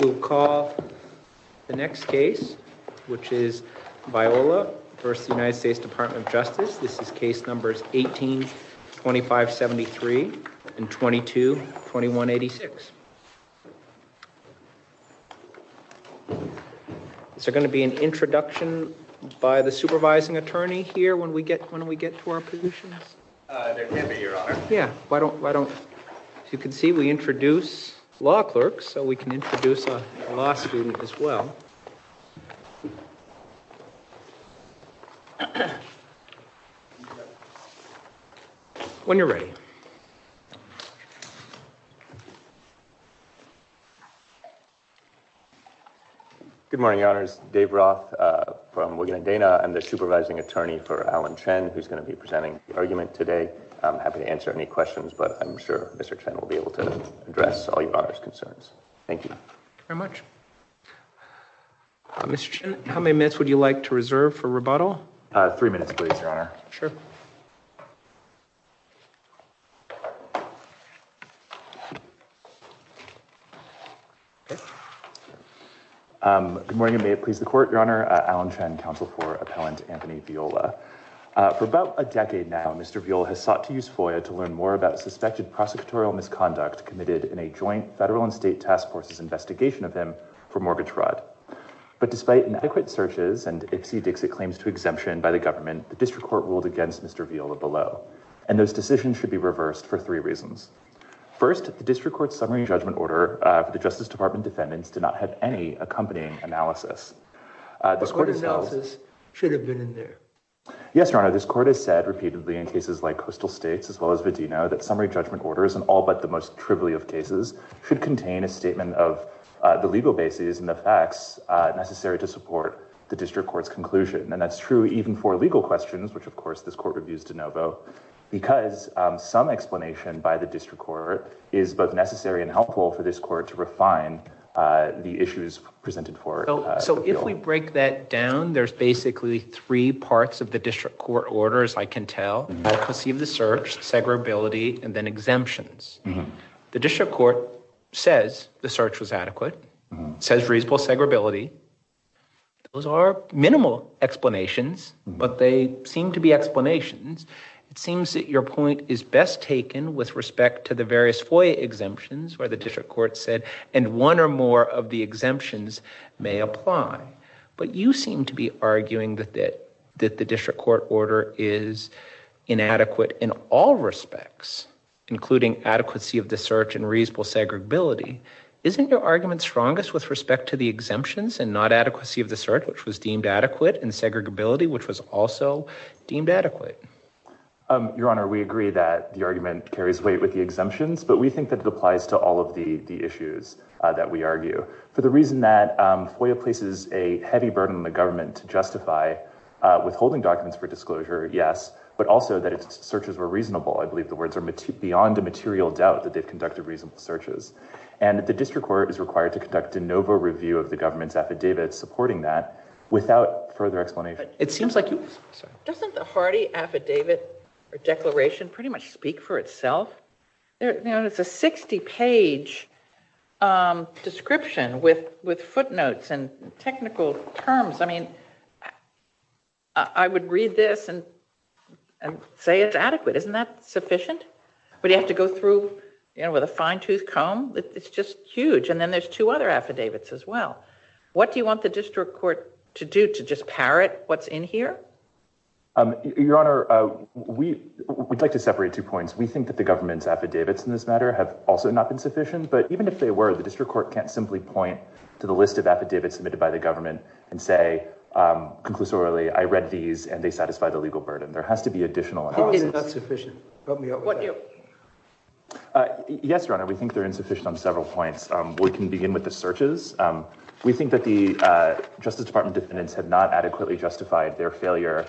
We'll call the next case which is Viola v. United States Department of Justice. This is case numbers 18-2573 and 22-2186. Is there going to be an introduction by the supervising attorney here when we get when we get to our positions? There can be your honor. Yeah why don't why don't you can see we introduce law clerks so we can introduce a law student as well. When you're ready. Good morning your honors. Dave Roth from Wigan and Dana. I'm the supervising attorney for Alan Chen who's going to be presenting the argument today. I'm happy to answer any questions but I'm sure Mr. Chen will be able to address all your concerns. Thank you very much. Mr. Chen, how many minutes would you like to reserve for rebuttal? Three minutes please your honor. Sure. Good morning. May it please the court. Your honor, Alan Chen, counsel for appellant Anthony Viola. For about a decade now, Mr. Viola has sought to use FOIA to learn more about suspected prosecutorial misconduct committed in a joint federal and state task force's investigation of him for mortgage fraud. But despite inadequate searches and Ipsy Dixit claims to exemption by the government, the district court ruled against Mr. Viola below. And those decisions should be reversed for three reasons. First, the district court's summary judgment order for the Justice Department defendants did not have any accompanying analysis. The court analysis should have been in there. Yes, your honor. This court has said repeatedly in cases like Coastal States as well as Vedeno that summary judgment orders and all but the most trivially of cases should contain a statement of the legal bases and the facts necessary to support the district court's conclusion. And that's true even for legal questions, which of course this court reviews de novo because some explanation by the district court is both necessary and helpful for this court to refine the issues presented forward. So if we break that down, there's basically three parts of the district court orders, I can tell. I can see the search, segregability, and then exemptions. The district court says the search was adequate, says reasonable segregability. Those are minimal explanations, but they seem to be explanations. It seems that your point is best taken with respect to the various FOIA exemptions where the district court said and one or more of the exemptions may apply. But you seem to be arguing that that that the district court order is inadequate in all respects, including adequacy of the search and reasonable segregability. Isn't your argument strongest with respect to the exemptions and not adequacy of the search, which was deemed adequate, and segregability, which was also deemed adequate? Your honor, we agree that the argument carries weight with the exemptions, but we think that it applies to all of the issues that we argue. For the reason that FOIA places a heavy burden on the government to justify withholding documents for disclosure, yes, but also that its searches were reasonable. I believe the words are beyond a material doubt that they've conducted reasonable searches. And the district court is required to conduct a novo review of the government's affidavit supporting that without further explanation. It seems like... Doesn't the Hardy affidavit or declaration pretty much speak for itself? It's a 60 page description with footnotes and technical terms. I mean, I would read this and say it's adequate. Isn't that sufficient? But you have to go through with a fine tooth comb. It's just huge. And then there's two other affidavits as well. What do you want the district court to do to just parrot what's in here? Your Honor, we'd like to separate two points. We think that the government's affidavits in this matter have also not been sufficient, but even if they were, the district court can't simply point to the list of affidavits submitted by the government and say, conclusorily, I read these and they satisfy the legal burden. There has to be additional analysis. Isn't that sufficient? Yes, Your Honor, we think they're insufficient on several points. We can begin with the searches. We think that the Justice Department defendants have not adequately justified their failure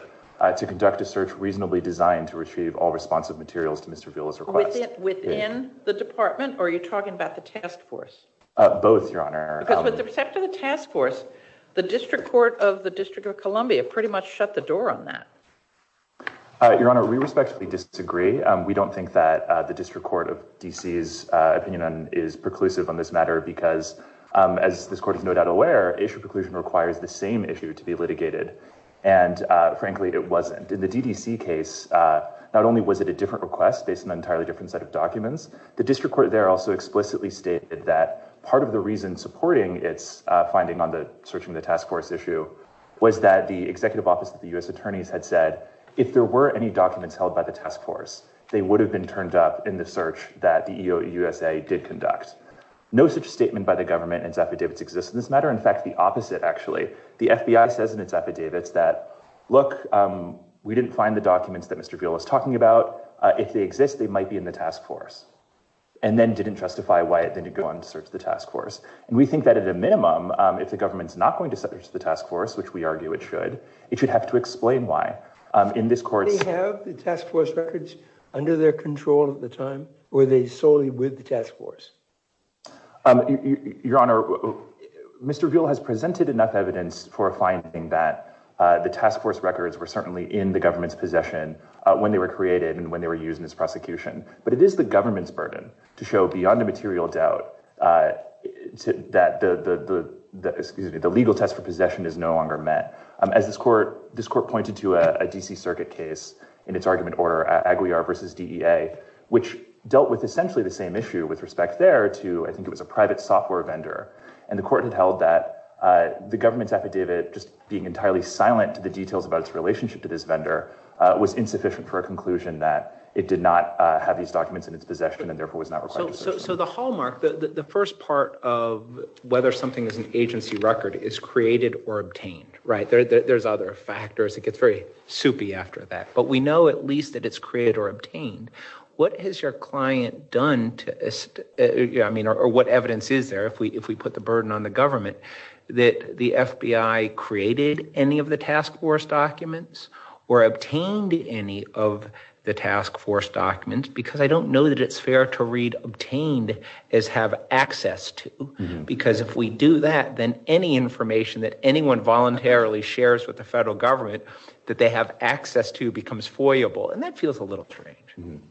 to conduct a search reasonably designed to retrieve all responsive materials to Mr. Villa's request. Within the department? Or are you talking about the task force? Both, Your Honor. Because with respect to the task force, the district court of the District of Columbia pretty much shut the door on that. Your Honor, we respectfully disagree. We don't think that the district court of D.C.'s opinion is preclusive on this matter because, as this court is no doubt aware, issue preclusion requires the same issue to be litigated, and frankly, it wasn't. In the D.D.C. case, not only was it a different request based on an entirely different set of documents, the district court there also explicitly stated that part of the reason supporting its finding on the searching the task force issue was that the executive office of the U.S. attorneys had said, if there were any documents held by the task force, they would have been turned up in the search that the EEOUSA did conduct. No such statement by the government in its affidavits exists in this matter. In fact, the opposite, actually. The FBI says in its affidavits that, look, we didn't find the documents that Mr. Villa was talking about. If they exist, they might be in the task force, and then didn't justify why it didn't go on to search the task force. And we think that, at a minimum, if the government's not going to search the task force, which we argue it should, it should have to explain why. In this court's- Did they have the task force records under their control at the time, or were they solely with the task force? Your Honor, Mr. Villa has presented enough evidence for a finding that the task force records were certainly in the government's possession when they were created and when they were used in this prosecution. But it is the government's burden to show, beyond a material doubt, that the legal test for possession is no longer met. As this court pointed to a D.C. dealt with essentially the same issue with respect there to, I think it was a private software vendor. And the court had held that the government's affidavit, just being entirely silent to the details about its relationship to this vendor, was insufficient for a conclusion that it did not have these documents in its possession, and therefore was not required- So the hallmark, the first part of whether something is an agency record, is created or obtained, right? There's other factors. It gets very soupy after that. But we know, at least, that it's created or obtained. What has your client done to- I mean, or what evidence is there, if we put the burden on the government, that the FBI created any of the task force documents or obtained any of the task force documents? Because I don't know that it's fair to read obtained as have access to. Because if we do that, then any information that anyone voluntarily shares with the federal government, that they have access to, becomes foyable. And that feels a little strange.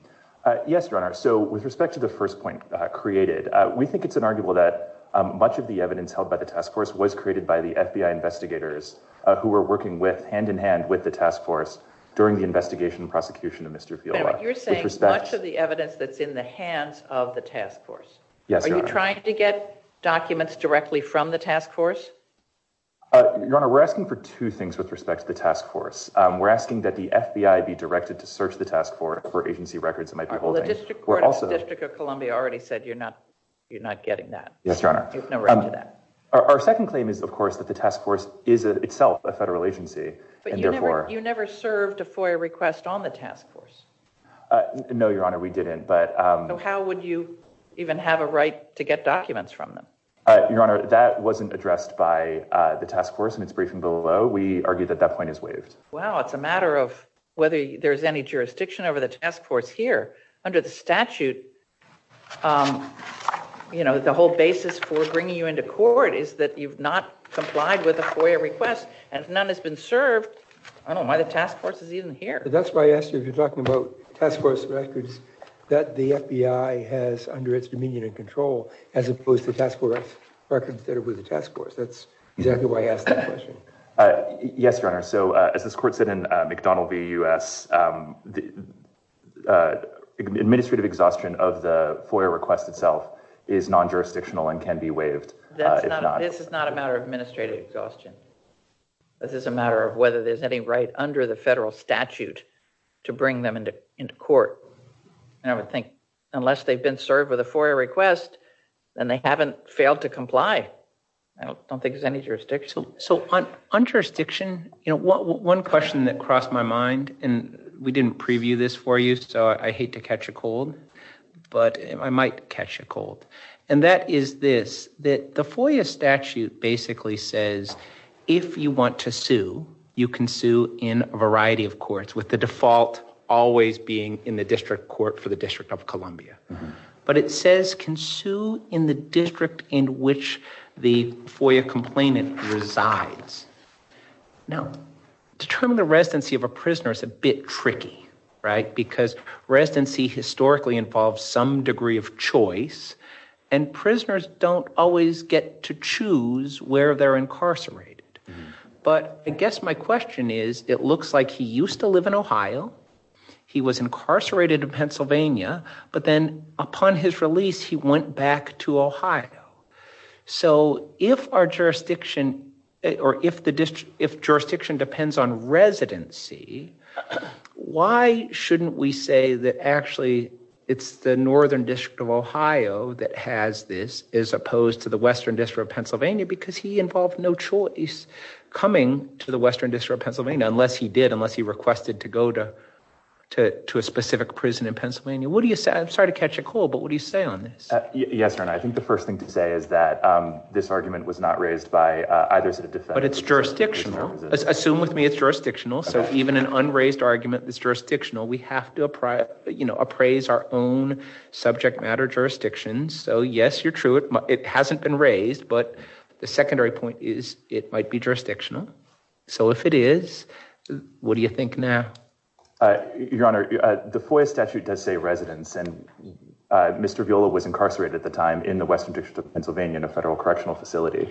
Yes, Your Honor. So with respect to the first point created, we think it's inarguable that much of the evidence held by the task force was created by the FBI investigators who were working hand in hand with the task force during the investigation and prosecution of Mr. Fielder. But you're saying much of the evidence that's in the hands of the task force? Yes, Your Honor. Were you trying to get documents directly from the task force? Your Honor, we're asking for two things with respect to the task force. We're asking that the FBI be directed to search the task force for agency records it might be holding. Well, the District Court of Columbia already said you're not getting that. Yes, Your Honor. There's no right to that. Our second claim is, of course, that the task force is itself a federal agency. But you never served a FOIA request on the task force. No, Your Honor, we didn't. So how would you even have a right to get documents from them? Your Honor, that wasn't addressed by the task force in its briefing below. We argue that that point is waived. Well, it's a matter of whether there's any jurisdiction over the task force here. Under the statute, you know, the whole basis for bringing you into court is that you've not complied with a FOIA request. And if none has been served, I don't know why the task force is even here. That's why I asked you if you're that the FBI has under its dominion and control, as opposed to task force records that are with the task force. That's exactly why I asked that question. Yes, Your Honor. So as this court said in McDonnell v. U.S., administrative exhaustion of the FOIA request itself is non-jurisdictional and can be waived. This is not a matter of administrative exhaustion. This is a matter of whether there's any right under the federal statute to bring them into court. And I would think unless they've been served with a FOIA request, then they haven't failed to comply. I don't think there's any jurisdiction. So on jurisdiction, you know, one question that crossed my mind, and we didn't preview this for you, so I hate to catch a cold, but I might catch a cold. And that is this, that the FOIA statute basically says, if you want to sue, you can sue in a variety of courts, with the default always being in the district court for the District of Columbia. But it says can sue in the district in which the FOIA complainant resides. Now, determining the residency of a prisoner is a bit tricky, right? Because residency historically involves some degree of choice, and prisoners don't always get to choose where they're incarcerated. But I guess my question is, it looks like he used to live in Ohio, he was incarcerated in Pennsylvania, but then upon his release, he went back to Ohio. So if our jurisdiction, or if the district, if jurisdiction depends on residency, why shouldn't we say that actually it's the Northern District of Ohio that has this, as opposed to the Western District of Pennsylvania? Because he involved no choice coming to the Western District of Pennsylvania, unless he did, unless he requested to go to to a specific prison in Pennsylvania. What do you say? I'm sorry to catch a cold, but what do you say on this? Yes, sir, and I think the first thing to say is that this argument was not raised by either of the defendants. But it's jurisdictional. Assume with me it's jurisdictional. So even an unraised argument that's jurisdictional, we have to, you know, appraise our own subject matter jurisdictions. So yes, you're true, it hasn't been raised. But the secondary point is it might be jurisdictional. So if it is, what do you think now? Your Honor, the FOIA statute does say residence. And Mr. Viola was incarcerated at the time in the Western District of Pennsylvania in a federal correctional facility.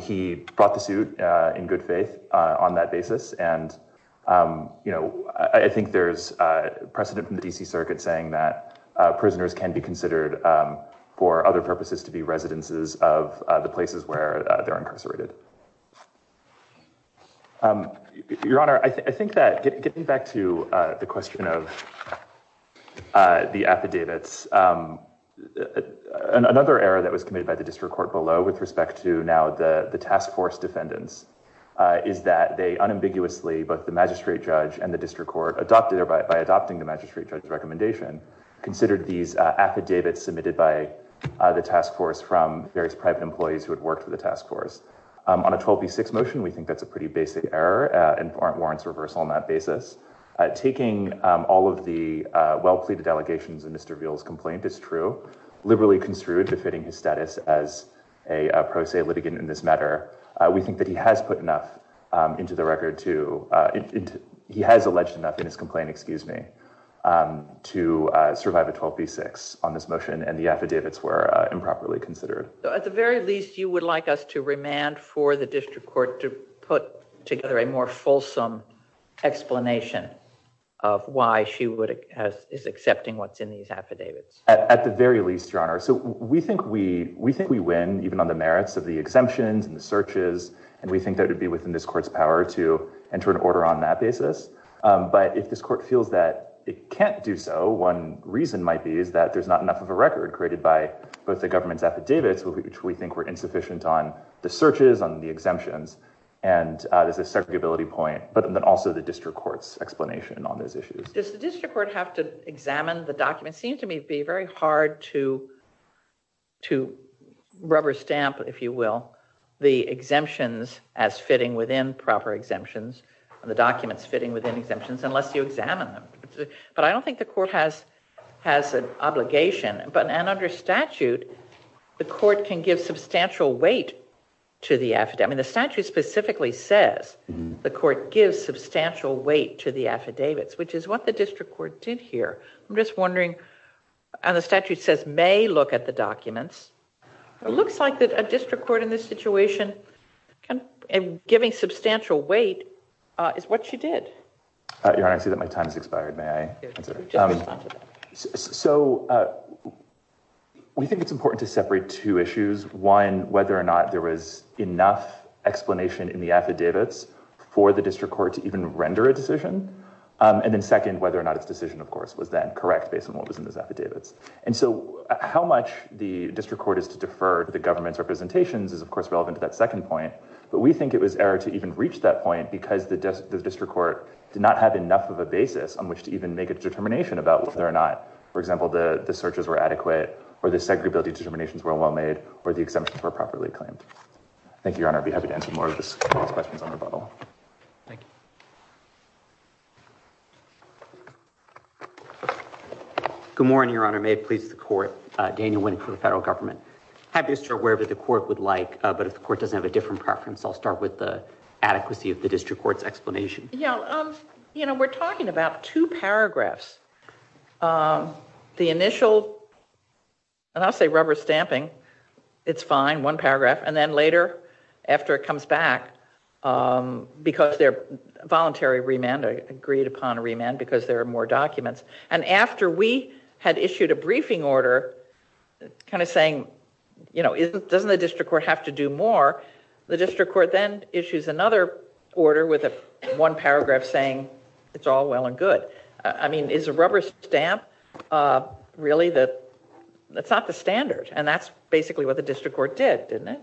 He brought the suit in good faith on that basis. And, you know, I think there's precedent from the D.C. Circuit saying that prisoners can be considered for other purposes to be residences of the places where they're incarcerated. Your Honor, I think that getting back to the question of the affidavits, another error that was committed by the district court below with respect to now the task force defendants is that they unambiguously, both the magistrate judge and the district court, by adopting the magistrate judge's recommendation, considered these affidavits submitted by the task force from various private employees who had worked for the task force. On a 12B6 motion, we think that's a pretty basic error and warrants reversal on that basis. Taking all of the well-pleaded allegations in Mr. Viola's complaint is true, liberally construed, befitting his status as a pro se litigant in this matter. We think that he has put enough into the record to, he has alleged enough in his complaint, excuse me, to survive a 12B6 on this motion and the affidavits were improperly considered. At the very least, you would like us to remand for the district court to put together a more fulsome explanation of why she is accepting what's in these affidavits? At the very least, your honor, so we think we win even on the merits of the exemptions and the searches and we think that it would be within this court's power to enter an order on that basis. But if this court feels that it can't do so, one reason might be is that there's not enough of a record created by both the government's affidavits, which we think were insufficient on the searches, on the exemptions, and there's a segregability point, but then also the district court's explanation on those issues. Does the district court have to examine the documents? Seems to me to be very hard to rubber stamp, if you will, the exemptions as fitting within proper exemptions and the documents fitting within exemptions unless you examine them. But I don't think the court has an obligation, but under statute, the court can give substantial weight to the affidavit. I mean, the statute specifically says the court gives substantial weight to the affidavits, which is what the district court did here. I'm just wondering, and the statute says may look at the documents. It looks like that a district court in this situation and giving substantial weight is what you did. Your honor, I see that my time has expired. So we think it's important to separate two issues. One, whether or not there was enough explanation in the affidavits for the district court to even render a decision, and then second, whether or not its decision, of course, was then correct based on what was in those affidavits. And so how much the district court is to defer to the government's representations is, of course, relevant to that second point, but we think it was error to even reach that point because the district court did not have enough of a basis on which to even make a determination about whether or not, for example, the searches were adequate or the segregability determinations were well made or the exemptions were properly claimed. Thank you, your honor. I'd be happy to answer more of those questions on rebuttal. Thank you. Good morning, your honor. May it please the court. Daniel Winnick for the federal government. Happy to start wherever the court would like, but if the court doesn't have a different preference, I'll start with the adequacy of the district court's explanation. Yeah, you know, we're talking about two paragraphs. The initial, and I'll say rubber stamping, it's fine, one paragraph, and then later after it comes back because they're voluntary remand, agreed upon a remand, because there are more documents. And after we had issued a briefing order kind of saying, you know, doesn't the district court have to do more? The district court then issues another order with a one paragraph saying, it's all well and good. I mean, is a rubber stamp really the, that's not the standard. And that's basically what the district court did, didn't it?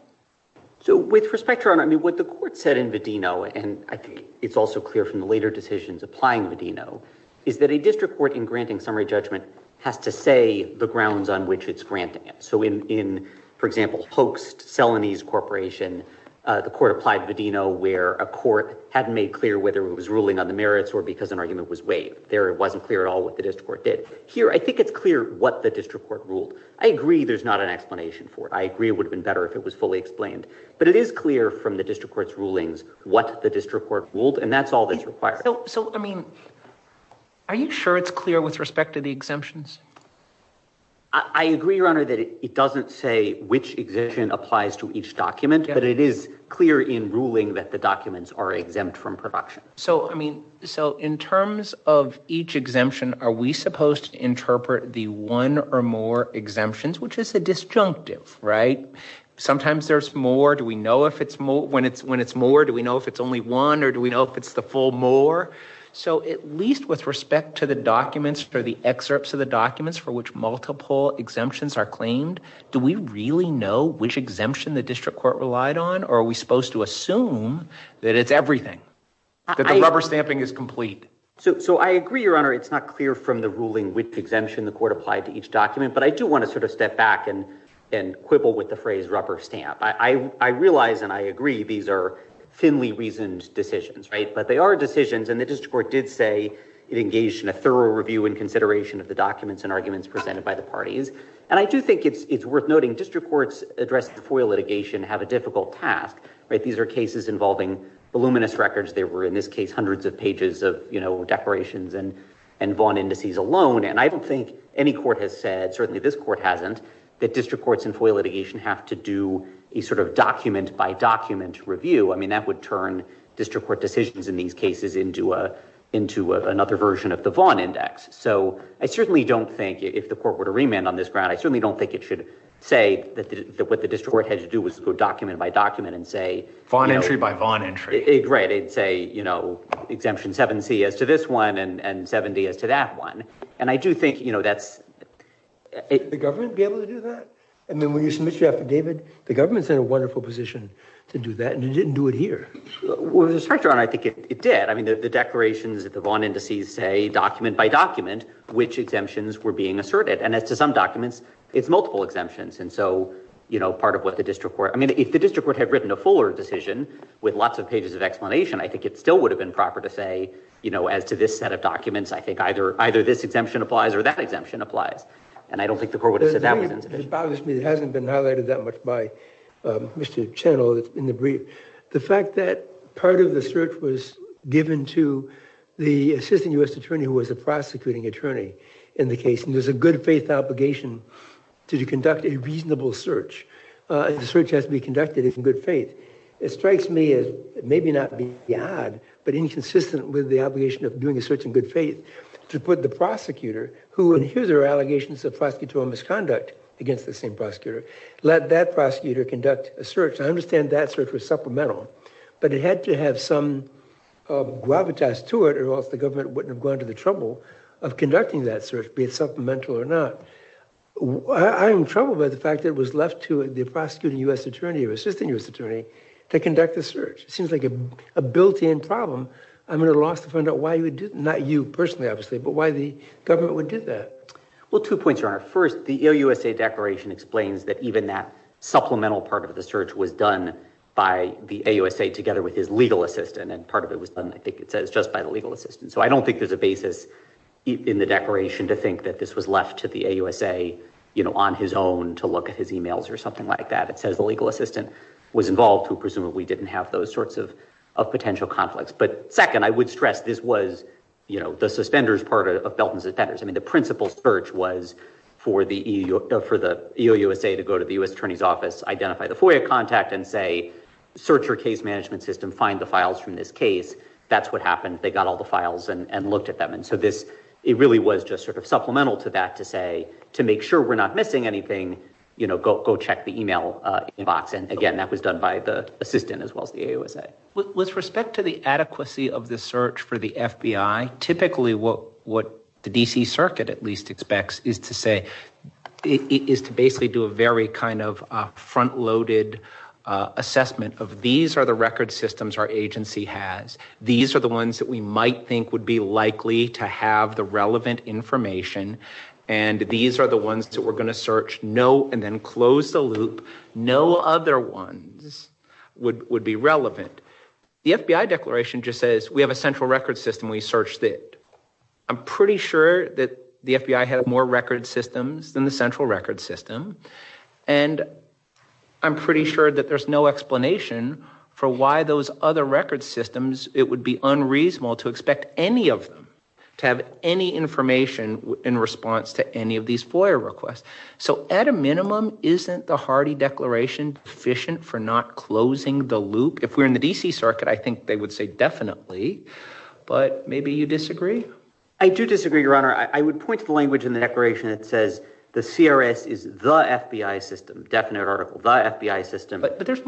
So with respect, your honor, I mean, what the court said in Vedino, and I think it's also clear from the later decisions applying Vedino, is that a district court in granting summary judgment has to say the grounds on which it's granting it. So in, for example, hoaxed Celanese corporation, the court applied Vedino where a court hadn't made clear whether it was ruling on the merits or because an argument was waived. There, it wasn't clear at all what the district court did. Here, I think it's clear what the district court ruled. I agree there's not an explanation for it. I agree it would have been better if it was fully explained, but it is clear from the district court's rulings what the district court ruled, and that's all that's required. So, I mean, are you sure it's clear with respect to the exemptions? I agree, your honor, that it doesn't say which exemption applies to each document, but it is clear in ruling that the documents are exempt from production. So, I mean, so in terms of each exemption, are we supposed to interpret the one or more exemptions, which is a disjunctive, right? Sometimes there's more. Do we know when it's more? Do we know if it's only one or do we know if it's the full more? So at least with respect to the documents for the excerpts of the documents for which multiple exemptions are we really know which exemption the district court relied on, or are we supposed to assume that it's everything, that the rubber stamping is complete? So, I agree, your honor, it's not clear from the ruling which exemption the court applied to each document, but I do want to sort of step back and quibble with the phrase rubber stamp. I realize and I agree these are thinly reasoned decisions, right, but they are decisions and the district court did say it engaged in a thorough review and consideration of the documents and arguments presented by the parties, and I do think it's worth noting district courts address the FOIA litigation have a difficult task, right? These are cases involving voluminous records. There were, in this case, hundreds of pages of, you know, declarations and Vaughn indices alone, and I don't think any court has said, certainly this court hasn't, that district courts in FOIA litigation have to do a sort of document by document review. I mean, that would turn district court decisions in these cases into another version of the Vaughn index. So, I certainly don't think, if the court were to remand on this I certainly don't think it should say that what the district court had to do was go document by document and say... Vaughn entry by Vaughn entry. Right, it'd say, you know, exemption 7c as to this one and 70 as to that one, and I do think, you know, that's... The government be able to do that? I mean, when you submit your affidavit, the government's in a wonderful position to do that, and you didn't do it here. With respect, your honor, I think it did. I mean, the declarations that the Vaughn indices say document by document which exemptions were being asserted, and as to some documents, it's multiple exemptions, and so, you know, part of what the district court... I mean, if the district court had written a fuller decision with lots of pages of explanation, I think it still would have been proper to say, you know, as to this set of documents, I think either this exemption applies or that exemption applies, and I don't think the court would have said that. It bothers me it hasn't been highlighted that much by Mr. Channel in the brief. The fact that part of the search was given to the assistant U.S. attorney who was a prosecuting attorney in the case, and there's a good faith obligation to conduct a reasonable search. The search has to be conducted in good faith. It strikes me as maybe not being odd, but inconsistent with the obligation of doing a search in good faith to put the prosecutor who, and here's their allegations of prosecutorial misconduct against the same prosecutor, let that prosecutor conduct a search. I understand that search was supplemental, but it had to have some gravitas to it or else the be it supplemental or not. I'm troubled by the fact that it was left to the prosecuting U.S. attorney or assistant U.S. attorney to conduct the search. It seems like a built-in problem. I'm at a loss to find out why you would do, not you personally, obviously, but why the government would do that. Well, two points, Your Honor. First, the AUSA declaration explains that even that supplemental part of the search was done by the AUSA together with his legal assistant, and part of it was done, I think it says, just by the legal assistant. So I don't think there's a to think that this was left to the AUSA on his own to look at his emails or something like that. It says the legal assistant was involved who presumably didn't have those sorts of potential conflicts. But second, I would stress this was the suspenders part of built-in suspenders. I mean, the principal search was for the EOUSA to go to the U.S. attorney's office, identify the FOIA contact and say, search your case management system, find the files from this case. That's happened. They got all the files and looked at them. And so it really was just sort of supplemental to that to say, to make sure we're not missing anything, go check the email inbox. And again, that was done by the assistant as well as the AUSA. With respect to the adequacy of the search for the FBI, typically what the D.C. Circuit at least expects is to basically do a very kind of we might think would be likely to have the relevant information. And these are the ones that we're going to search. No. And then close the loop. No other ones would be relevant. The FBI declaration just says we have a central record system. We searched it. I'm pretty sure that the FBI had more record systems than the central record system. And I'm pretty sure that there's no explanation for why those other record systems, it would be unreasonable to expect any of them to have any information in response to any of these FOIA requests. So at a minimum, isn't the Hardy Declaration sufficient for not closing the loop? If we're in the D.C. Circuit, I think they would say definitely, but maybe you disagree. I do disagree, Your Honor. I would point to the language in the declaration that says the CRS is the FBI system, definite article, the FBI system.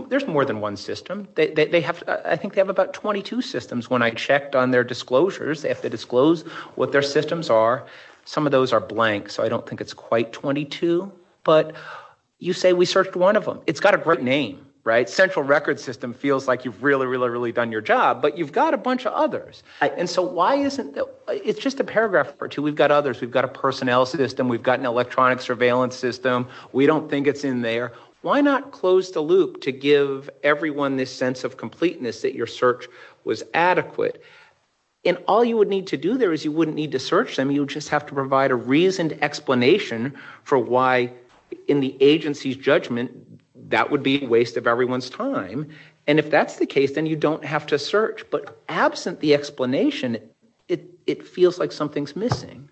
There's more than one system. I think they have about 22 systems. When I checked on their disclosures, they have to disclose what their systems are. Some of those are blank. So I don't think it's quite 22. But you say we searched one of them. It's got a great name, right? Central record system feels like you've really, really, really done your job, but you've got a bunch of others. And so why isn't it just a paragraph or two? We've got others. We've got a personnel system. We've got an electronic surveillance system. We don't think it's in Why not close the loop to give everyone this sense of completeness that your search was adequate? And all you would need to do there is you wouldn't need to search them. You just have to provide a reasoned explanation for why, in the agency's judgment, that would be a waste of everyone's time. And if that's the case, then you don't have to search. But absent the explanation, it feels like something's missing.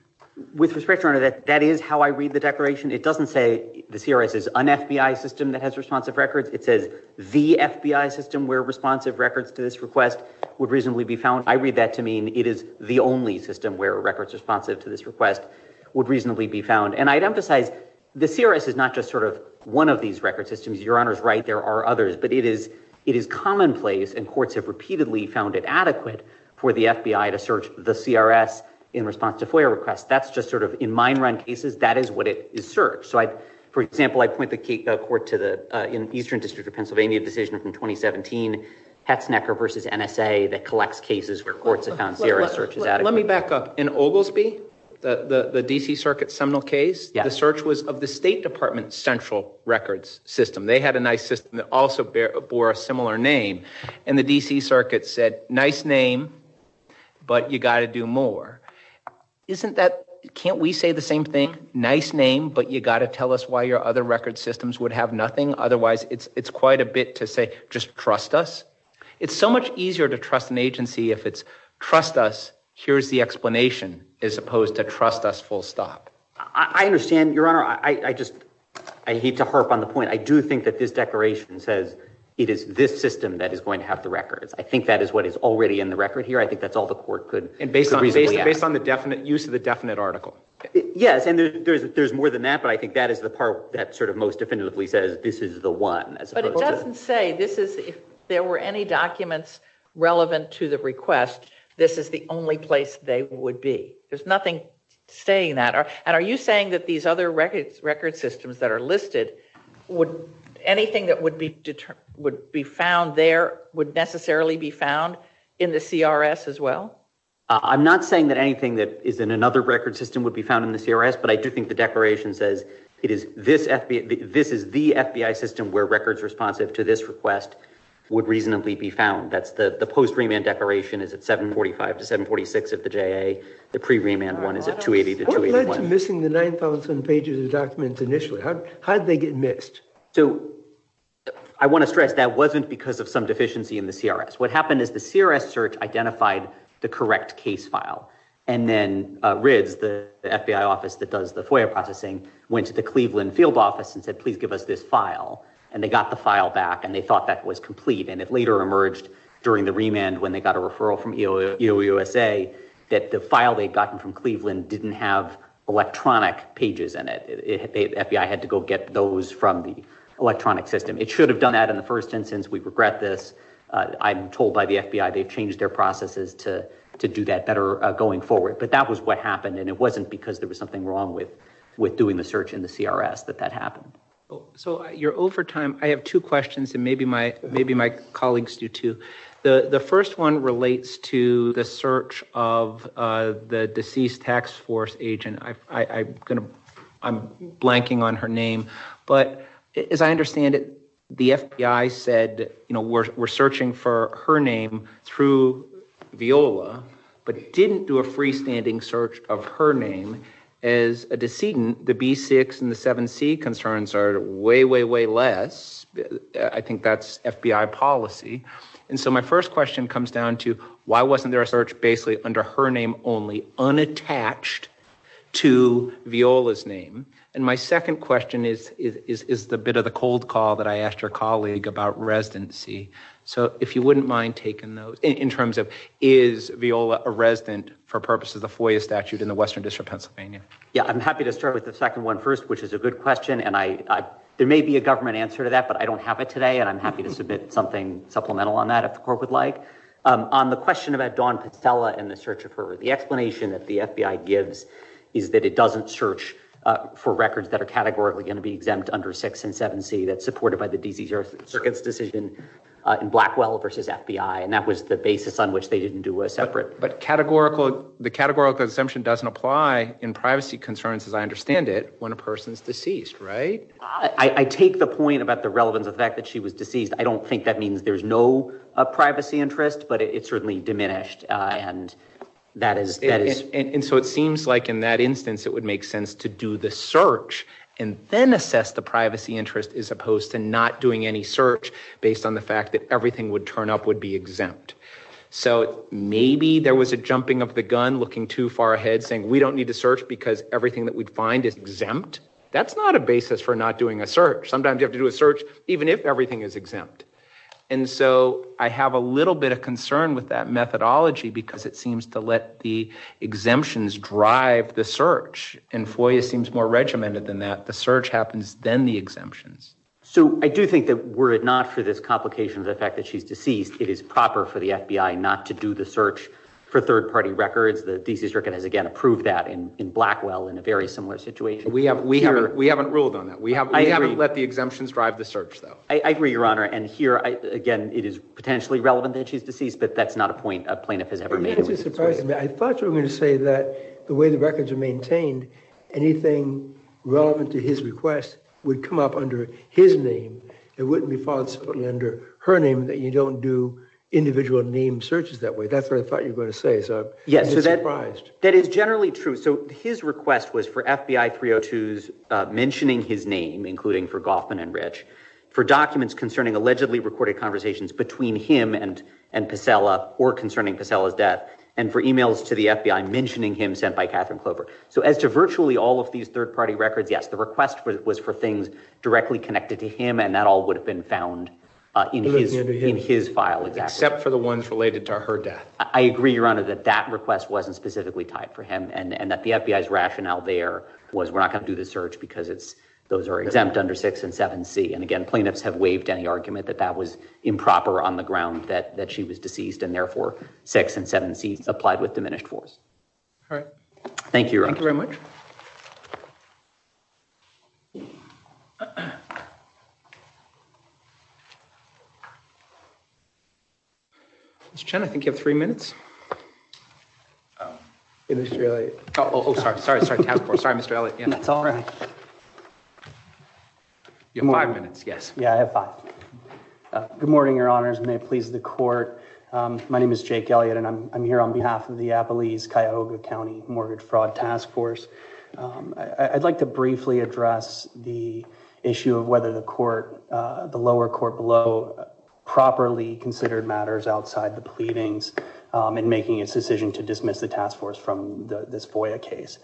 With respect, Your Honor, that is how I read the declaration. It doesn't say the CRS is an FBI system that has responsive records. It says the FBI system where responsive records to this request would reasonably be found. I read that to mean it is the only system where records responsive to this request would reasonably be found. And I'd emphasize the CRS is not just sort of one of these record systems. Your Honor's right. There are others. But it is commonplace, and courts have repeatedly found it adequate for the FBI to search the CRS in response to FOIA requests. That's just sort of, in mine run cases, that is what it is searched. So I, for example, I point the court to the Eastern District of Pennsylvania decision from 2017, Hetznecker versus NSA, that collects cases where courts have found CRS searches adequate. Let me back up. In Oglesby, the D.C. Circuit seminal case, the search was of the State Department central records system. They had a nice system that also bore a similar name. And the D.C. Circuit said, nice name, but you got to do more. Isn't that, can't we say the same thing? Nice name, but you got to tell us why your other record systems would have nothing. Otherwise, it's quite a bit to say, just trust us. It's so much easier to trust an agency if it's, trust us, here's the explanation, as opposed to trust us full stop. I understand, Your Honor. I just, I hate to harp on the point. I do think that this declaration says it is this system that is going to have the records. I think that is what is already in the record here. I think that's all the court could reasonably ask. Based on the definite, use of the definite article. Yes, and there's more than that, but I think that is the part that sort of most definitively says, this is the one. But it doesn't say, this is, if there were any documents relevant to the request, this is the only place they would be. There's nothing saying that. And are you saying that these other records systems that are listed, would anything that would be found there, would necessarily be found in the CRS as well? I'm not saying that anything that is in another record system would be found in the CRS, but I do think the declaration says, it is this, this is the FBI system where records responsive to this request would reasonably be found. That's the post remand declaration is at 745 to 746 of the JA. The pre-remand one is at 280 to 281. What led to missing the 9,000 pages of documents initially? How did they get missed? So, I want to stress that wasn't because of some deficiency in the CRS. What happened is the CRS search identified the correct case file. And then RIDS, the FBI office that does the FOIA processing, went to the Cleveland field office and said, please give us this file. And they got the file back and they thought that was complete. And it later emerged during the remand, when they got a referral from EOUSA, that the file they'd gotten from Cleveland didn't have electronic pages in it. FBI had to go get those from the I'm told by the FBI, they've changed their processes to do that better going forward, but that was what happened. And it wasn't because there was something wrong with doing the search in the CRS that that happened. So, you're over time. I have two questions and maybe my colleagues do too. The first one relates to the search of the deceased tax force agent. I'm blanking on her name, but as I understand it, the FBI said, you know, we're searching for her name through Viola, but didn't do a freestanding search of her name as a decedent. The B6 and the 7C concerns are way, way, way less. I think that's FBI policy. And so my first question comes down to why wasn't their search basically under her name only, unattached to Viola's name? And my second question is the bit of the cold call that I asked your colleague about residency. So if you wouldn't mind taking those in terms of, is Viola a resident for purposes of FOIA statute in the Western District of Pennsylvania? Yeah, I'm happy to start with the second one first, which is a good question. And there may be a government answer to that, but I don't have it today. And I'm happy to supplement on that if the court would like. On the question about Dawn Pacella and the search of her, the explanation that the FBI gives is that it doesn't search for records that are categorically going to be exempt under 6 and 7C that's supported by the DC Circuit's decision in Blackwell versus FBI. And that was the basis on which they didn't do a separate. But categorical, the categorical assumption doesn't apply in privacy concerns as I understand it when a person's deceased, right? I take the point about the relevance of the fact that she was deceased. I don't think that means there's no privacy interest, but it certainly diminished. And so it seems like in that instance, it would make sense to do the search and then assess the privacy interest as opposed to not doing any search based on the fact that everything would turn up would be exempt. So maybe there was a jumping of the gun looking too far ahead saying, we don't need to search because everything that we'd find is exempt. That's not a basis for not a search. Sometimes you have to do a search even if everything is exempt. And so I have a little bit of concern with that methodology because it seems to let the exemptions drive the search. And FOIA seems more regimented than that. The search happens then the exemptions. So I do think that were it not for this complication of the fact that she's deceased, it is proper for the FBI not to do the search for third-party records. The DC Circuit has again approved that in Blackwell in a very similar situation. We haven't ruled on that. I agree. We haven't let the exemptions drive the search though. I agree, Your Honor. And here, again, it is potentially relevant that she's deceased, but that's not a point a plaintiff has ever made. It's surprising. I thought you were going to say that the way the records are maintained, anything relevant to his request would come up under his name. It wouldn't be false under her name that you don't do individual name searches that way. That's what I thought you were going to say. So I'm surprised. Yes, that is generally true. So his request was for FBI 302s mentioning his name, including for Goffman and Rich, for documents concerning allegedly recorded conversations between him and Pacella or concerning Pacella's death, and for emails to the FBI mentioning him sent by Catherine Clover. So as to virtually all of these third-party records, yes, the request was for things directly connected to him and that all would have been found in his file. Except for the ones related to her death. I agree, Your Honor, that that request wasn't specifically tied for him and that the FBI's was we're not going to do the search because those are exempt under 6 and 7C. And again, plaintiffs have waived any argument that that was improper on the ground that she was deceased and therefore 6 and 7C applied with diminished force. All right. Thank you, Your Honor. Mr. Chen, I think you have three minutes. Oh, sorry. Sorry. Sorry. Sorry, Mr. Elliott, and that's all right. You have five minutes. Yes. Yeah, I have five. Good morning, Your Honors. May it please the court. My name is Jake Elliott, and I'm here on behalf of the Appalachian-Cuyahoga County Mortgage Fraud Task Force. I'd like to briefly address the issue of whether the lower court below properly considered matters outside the pleadings in making its decision to dismiss the task force from this FOIA case.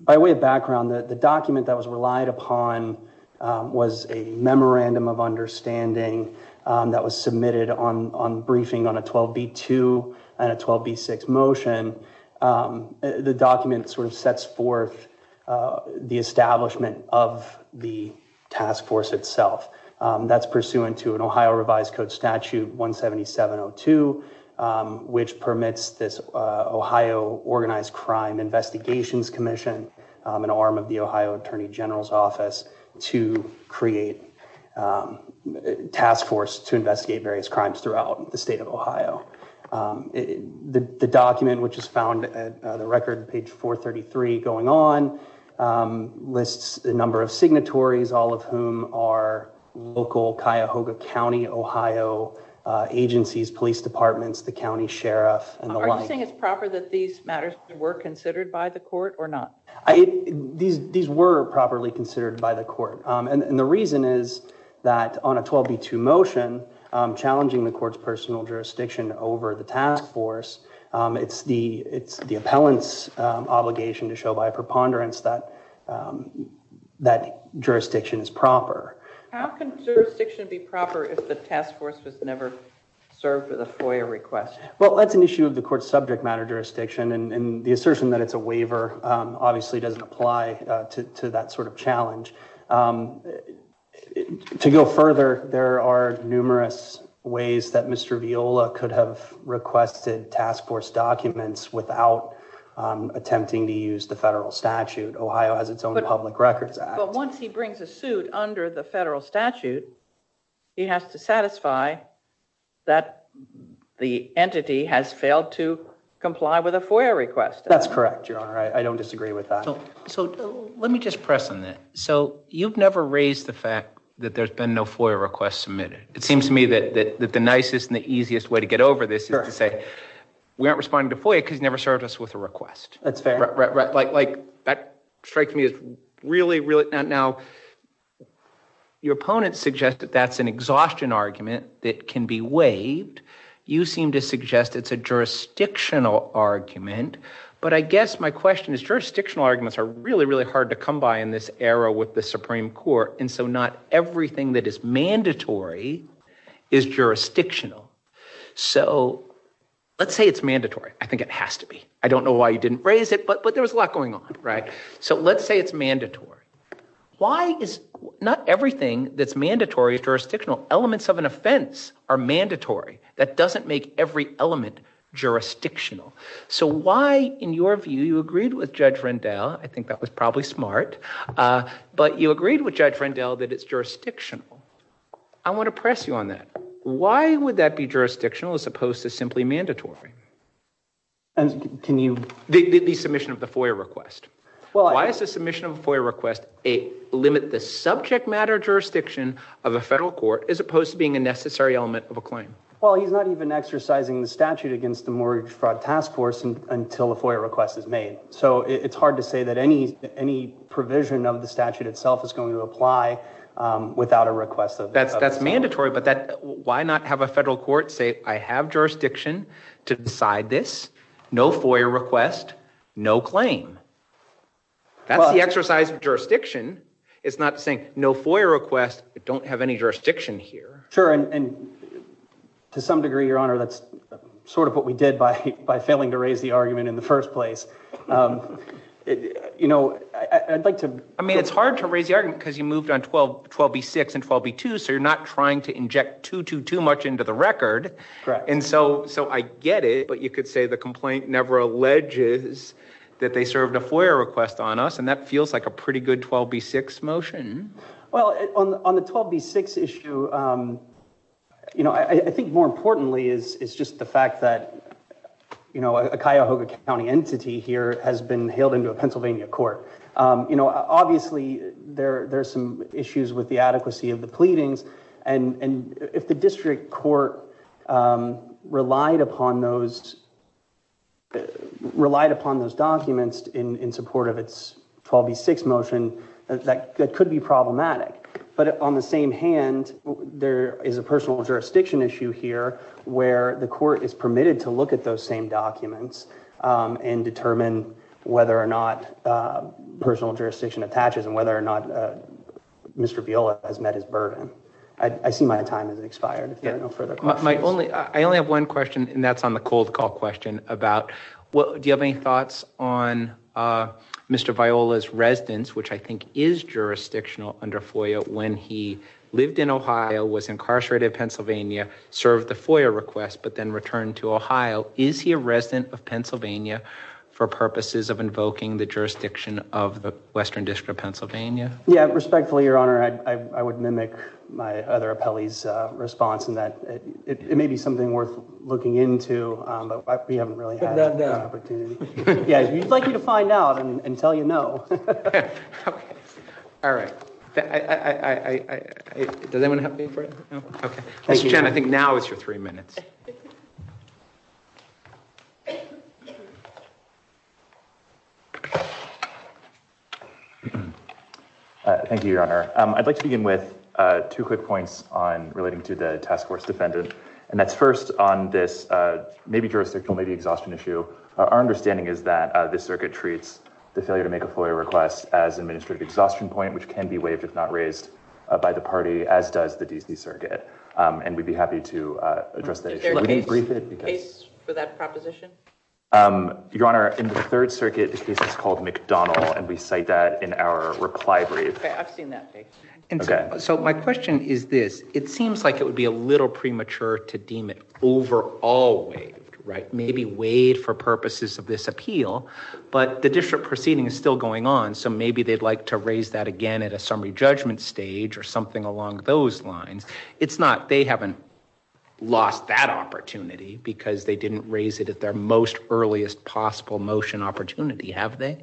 By way of background, the document that was relied upon was a memorandum of understanding that was submitted on briefing on a 12B2 and a 12B6 motion. The document sort of sets forth the establishment of the task force itself. That's pursuant to an Ohio Revised Code Statute 17702, which permits this Ohio Organized Crime Investigations Commission, an arm of the Ohio Attorney General's Office, to create a task force to investigate various crimes throughout the state of Ohio. The document, which is found at the record, page 433 going on, lists a number of signatories, all of whom are local Cuyahoga County, Ohio agencies, police departments, the county sheriff, and the like. Are you saying it's proper that these matters were considered by the court or not? These were properly considered by the court, and the reason is that on a 12B2 motion challenging the court's personal jurisdiction over the task force, it's the appellant's obligation to show by a preponderance that that jurisdiction is proper. How can jurisdiction be proper if the task force was never served with a FOIA request? Well, that's an issue of the court's subject matter jurisdiction, and the assertion that it's a waiver obviously doesn't apply to that sort of challenge. To go further, there are numerous ways that Mr. Viola could have requested task force documents without attempting to use the federal statute. Ohio has its own Public Records Act. But once he brings a suit under the federal statute, he has to satisfy that the entity has failed to comply with a FOIA request. That's correct, Your Honor. I don't agree with that. So let me just press on that. So you've never raised the fact that there's been no FOIA request submitted. It seems to me that the nicest and the easiest way to get over this is to say we aren't responding to FOIA because you never served us with a request. That's fair. Like that strikes me as really, really not. Now, your opponents suggest that that's an exhaustion argument that can be waived. You seem to suggest it's a jurisdictional argument. But I guess my question is jurisdictional arguments are really, really hard to come by in this era with the Supreme Court. And so not everything that is mandatory is jurisdictional. So let's say it's mandatory. I think it has to be. I don't know why you didn't raise it, but there was a lot going on, right? So let's say it's mandatory. Why is not everything that's mandatory jurisdictional? Elements of an offense are mandatory. That doesn't make every element jurisdictional. So why, in your view, you agreed with Judge Rendell, I think that was probably smart, but you agreed with Judge Rendell that it's jurisdictional. I want to press you on that. Why would that be jurisdictional as opposed to simply mandatory? And can you... The submission of the FOIA request. Why is the submission of a FOIA request a limit the subject matter jurisdiction of a federal court as opposed to being a necessary element of a claim? Well, he's not even exercising the statute against the mortgage fraud until the FOIA request is made. So it's hard to say that any provision of the statute itself is going to apply without a request. That's mandatory, but why not have a federal court say, I have jurisdiction to decide this. No FOIA request, no claim. That's the exercise of jurisdiction. It's not saying no FOIA request, don't have any jurisdiction here. Sure. And to some degree, Your Honor, that's sort of what we did by failing to raise the argument in the first place. I'd like to... I mean, it's hard to raise the argument because you moved on 12B6 and 12B2, so you're not trying to inject too, too, too much into the record. Correct. And so I get it, but you could say the complaint never alleges that they served a FOIA request on us. And that feels like a pretty good 12B6 motion. Well, on the 12B6 issue, you know, I think more importantly is just the fact that, you know, a Cuyahoga County entity here has been hailed into a Pennsylvania court. You know, obviously there are some issues with the adequacy of the pleadings. And if the district court relied upon those, relied upon those documents in support of its 12B6 motion, that could be problematic. But on the same hand, there is a personal jurisdiction issue here where the court is permitted to look at those same documents and determine whether or not personal jurisdiction attaches and whether or not Mr. Viola has met his burden. I see my time has expired. If there are no further questions... I only have one question, and that's on the cold call question about, do you have any thoughts on Mr. Viola's residence, which I think is jurisdictional under FOIA, when he lived in Ohio, was incarcerated in Pennsylvania, served the FOIA request, but then returned to Ohio. Is he a resident of Pennsylvania for purposes of invoking the jurisdiction of the Western District of Pennsylvania? Yeah, respectfully, Your Honor, I would mimic my other appellee's response in that it may be something worth looking into, but we haven't really had that opportunity. Yeah, we'd like you to find out and tell you no. Okay, all right. Does anyone have any further? No? Okay. Mr. Chen, I think now is your three minutes. Thank you, Your Honor. I'd like to begin with two quick points on relating to the task force defendant, and that's first on this maybe jurisdictional, maybe exhaustion issue. Our understanding is that this circuit treats the failure to make a FOIA request as administrative exhaustion point, which can be waived if not raised by the party, as does the D.C. Circuit, and we'd be happy to address that issue. Is there a case for that proposition? Your Honor, in the Third Circuit, the case is called McDonald, and we cite that in our reply brief. I've seen that. Okay, so my question is this. It seems like it would be a little premature to deem it overall waived, right? Maybe waived for purposes of this appeal, but the district proceeding is still going on, so maybe they'd like to raise that again at a summary judgment stage or something along those lines. It's not they haven't lost that opportunity because they didn't raise it at their most earliest possible motion opportunity, have they?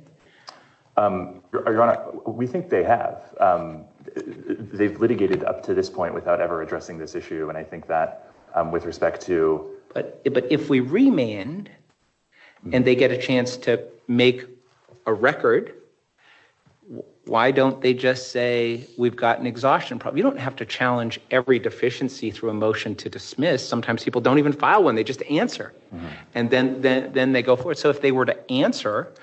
Your Honor, we think they have. They've litigated up to this point without ever addressing this issue, and I think that with respect to... But if we remand and they get a chance to make a record, why don't they just say we've got an exhaustion problem? You don't have to challenge every deficiency through a motion to dismiss. Sometimes people don't even file one. They just answer, and then they go for it. So if they were to answer,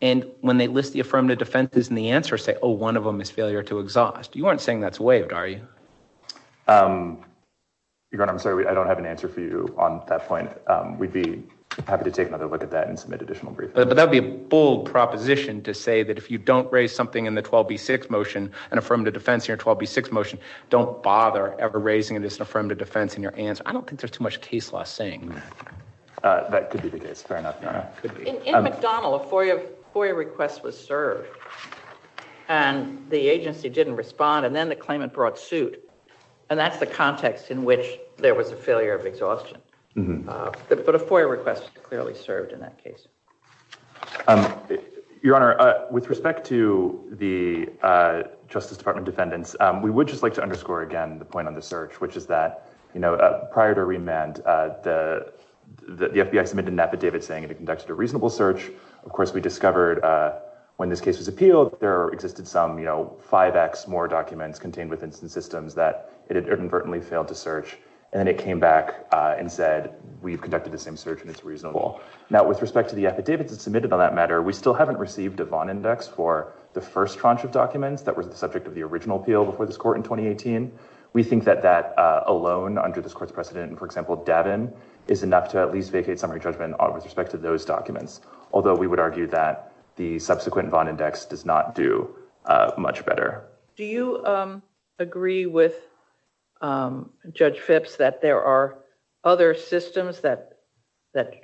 and when they list the affirmative defenses in the answer, say, oh, one of them is failure to exhaust, you aren't saying that's waived, are you? Your Honor, I'm sorry. I don't have an answer for you on that point. We'd be happy to take another look at that and submit additional briefings. But that would be a bold proposition to say that if you don't raise something in the 12b6 motion, an affirmative defense in your 12b6 motion, don't bother ever raising it as an affirmative defense in your answer. I don't think there's too much case law saying that. That could be the case. Fair enough, Your Honor. In McDonnell, a FOIA request was served, and the agency didn't respond, and then the claimant brought suit. And that's the context in which there was a failure of exhaustion. But a FOIA request clearly served in that case. Your Honor, with respect to the Justice Department defendants, we would just like to underscore again the point on the search, which is that prior to remand, the FBI submitted an affidavit saying it had conducted a reasonable search. Of course, we discovered when this case was appealed, there existed some 5x more documents contained within some systems that it had inadvertently failed to search. And then it came back and said, we've conducted the same search, and it's reasonable. Now, with respect to the affidavits that submitted on that matter, we still haven't received a Vaughn index for the first tranche of documents that was the subject of the original appeal before this We think that that alone, under this Court's precedent, for example, Davin, is enough to at least vacate summary judgment with respect to those documents, although we would argue that the subsequent Vaughn index does not do much better. Do you agree with Judge Phipps that there are other systems that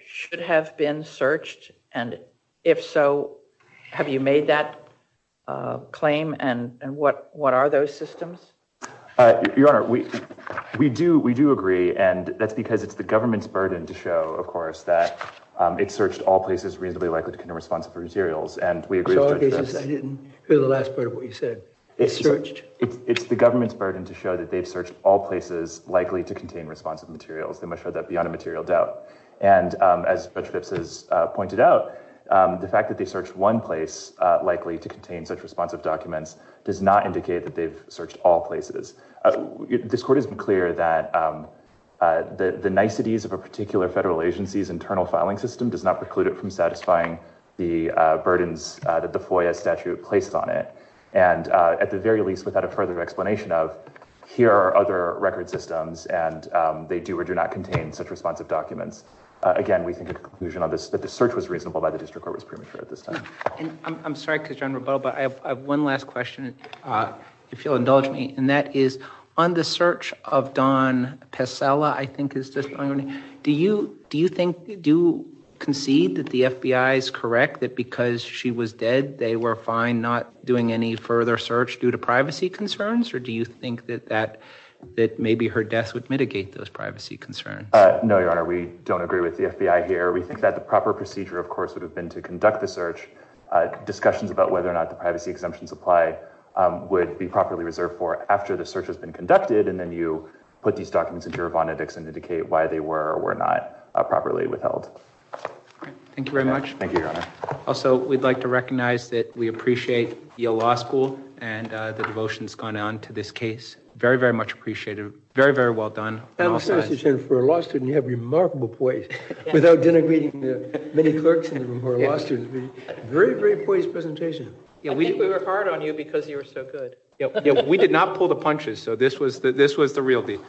should have been searched? And if so, have you made that claim? And what are those systems? Your Honor, we do agree, and that's because it's the government's burden to show, of course, that it searched all places reasonably likely to contain responsive materials, and we agree with Judge Phipps. I didn't hear the last part of what you said. It's searched. It's the government's burden to show that they've searched all places likely to contain responsive materials. They must show that beyond a material doubt. And as Judge Phipps has pointed out, the fact that they searched one place likely to contain such responsive documents does not indicate that they've searched all places. This Court has been clear that the niceties of a particular federal agency's internal filing system does not preclude it from satisfying the burdens that the FOIA statute places on it. And at the very least, without a further explanation of, here are other record systems, and they do or do not contain such responsive documents. Again, we think a conclusion on this, that the search was reasonable by the District Court was premature at this time. I'm sorry, because you're on rebuttal, but I have one last question, if you'll indulge me. And that is, on the search of Dawn Pescella, I think is the name, do you think, do you concede that the FBI is correct that because she was dead, they were fine not doing any further search due to privacy concerns? Or do you think that maybe her death would mitigate those privacy concerns? No, Your Honor, we don't agree with the FBI here. We think that the proper procedure, of course, would have been to conduct the search, discussions about whether or not the privacy exemptions apply would be properly reserved for after the search has been conducted. And then you put these documents into your bonnet and indicate why they were or were not properly withheld. Thank you very much. Thank you, Your Honor. Also, we'd like to recognize that we appreciate Yale Law School and the devotion that's gone on to this case. Very, very much appreciated. Very, very well done. For a law student, you have remarkable poise. Without denigrating the many clerks in the room, very, very poised presentation. I think we were hard on you because you were so good. We did not pull the punches, so this was the real deal.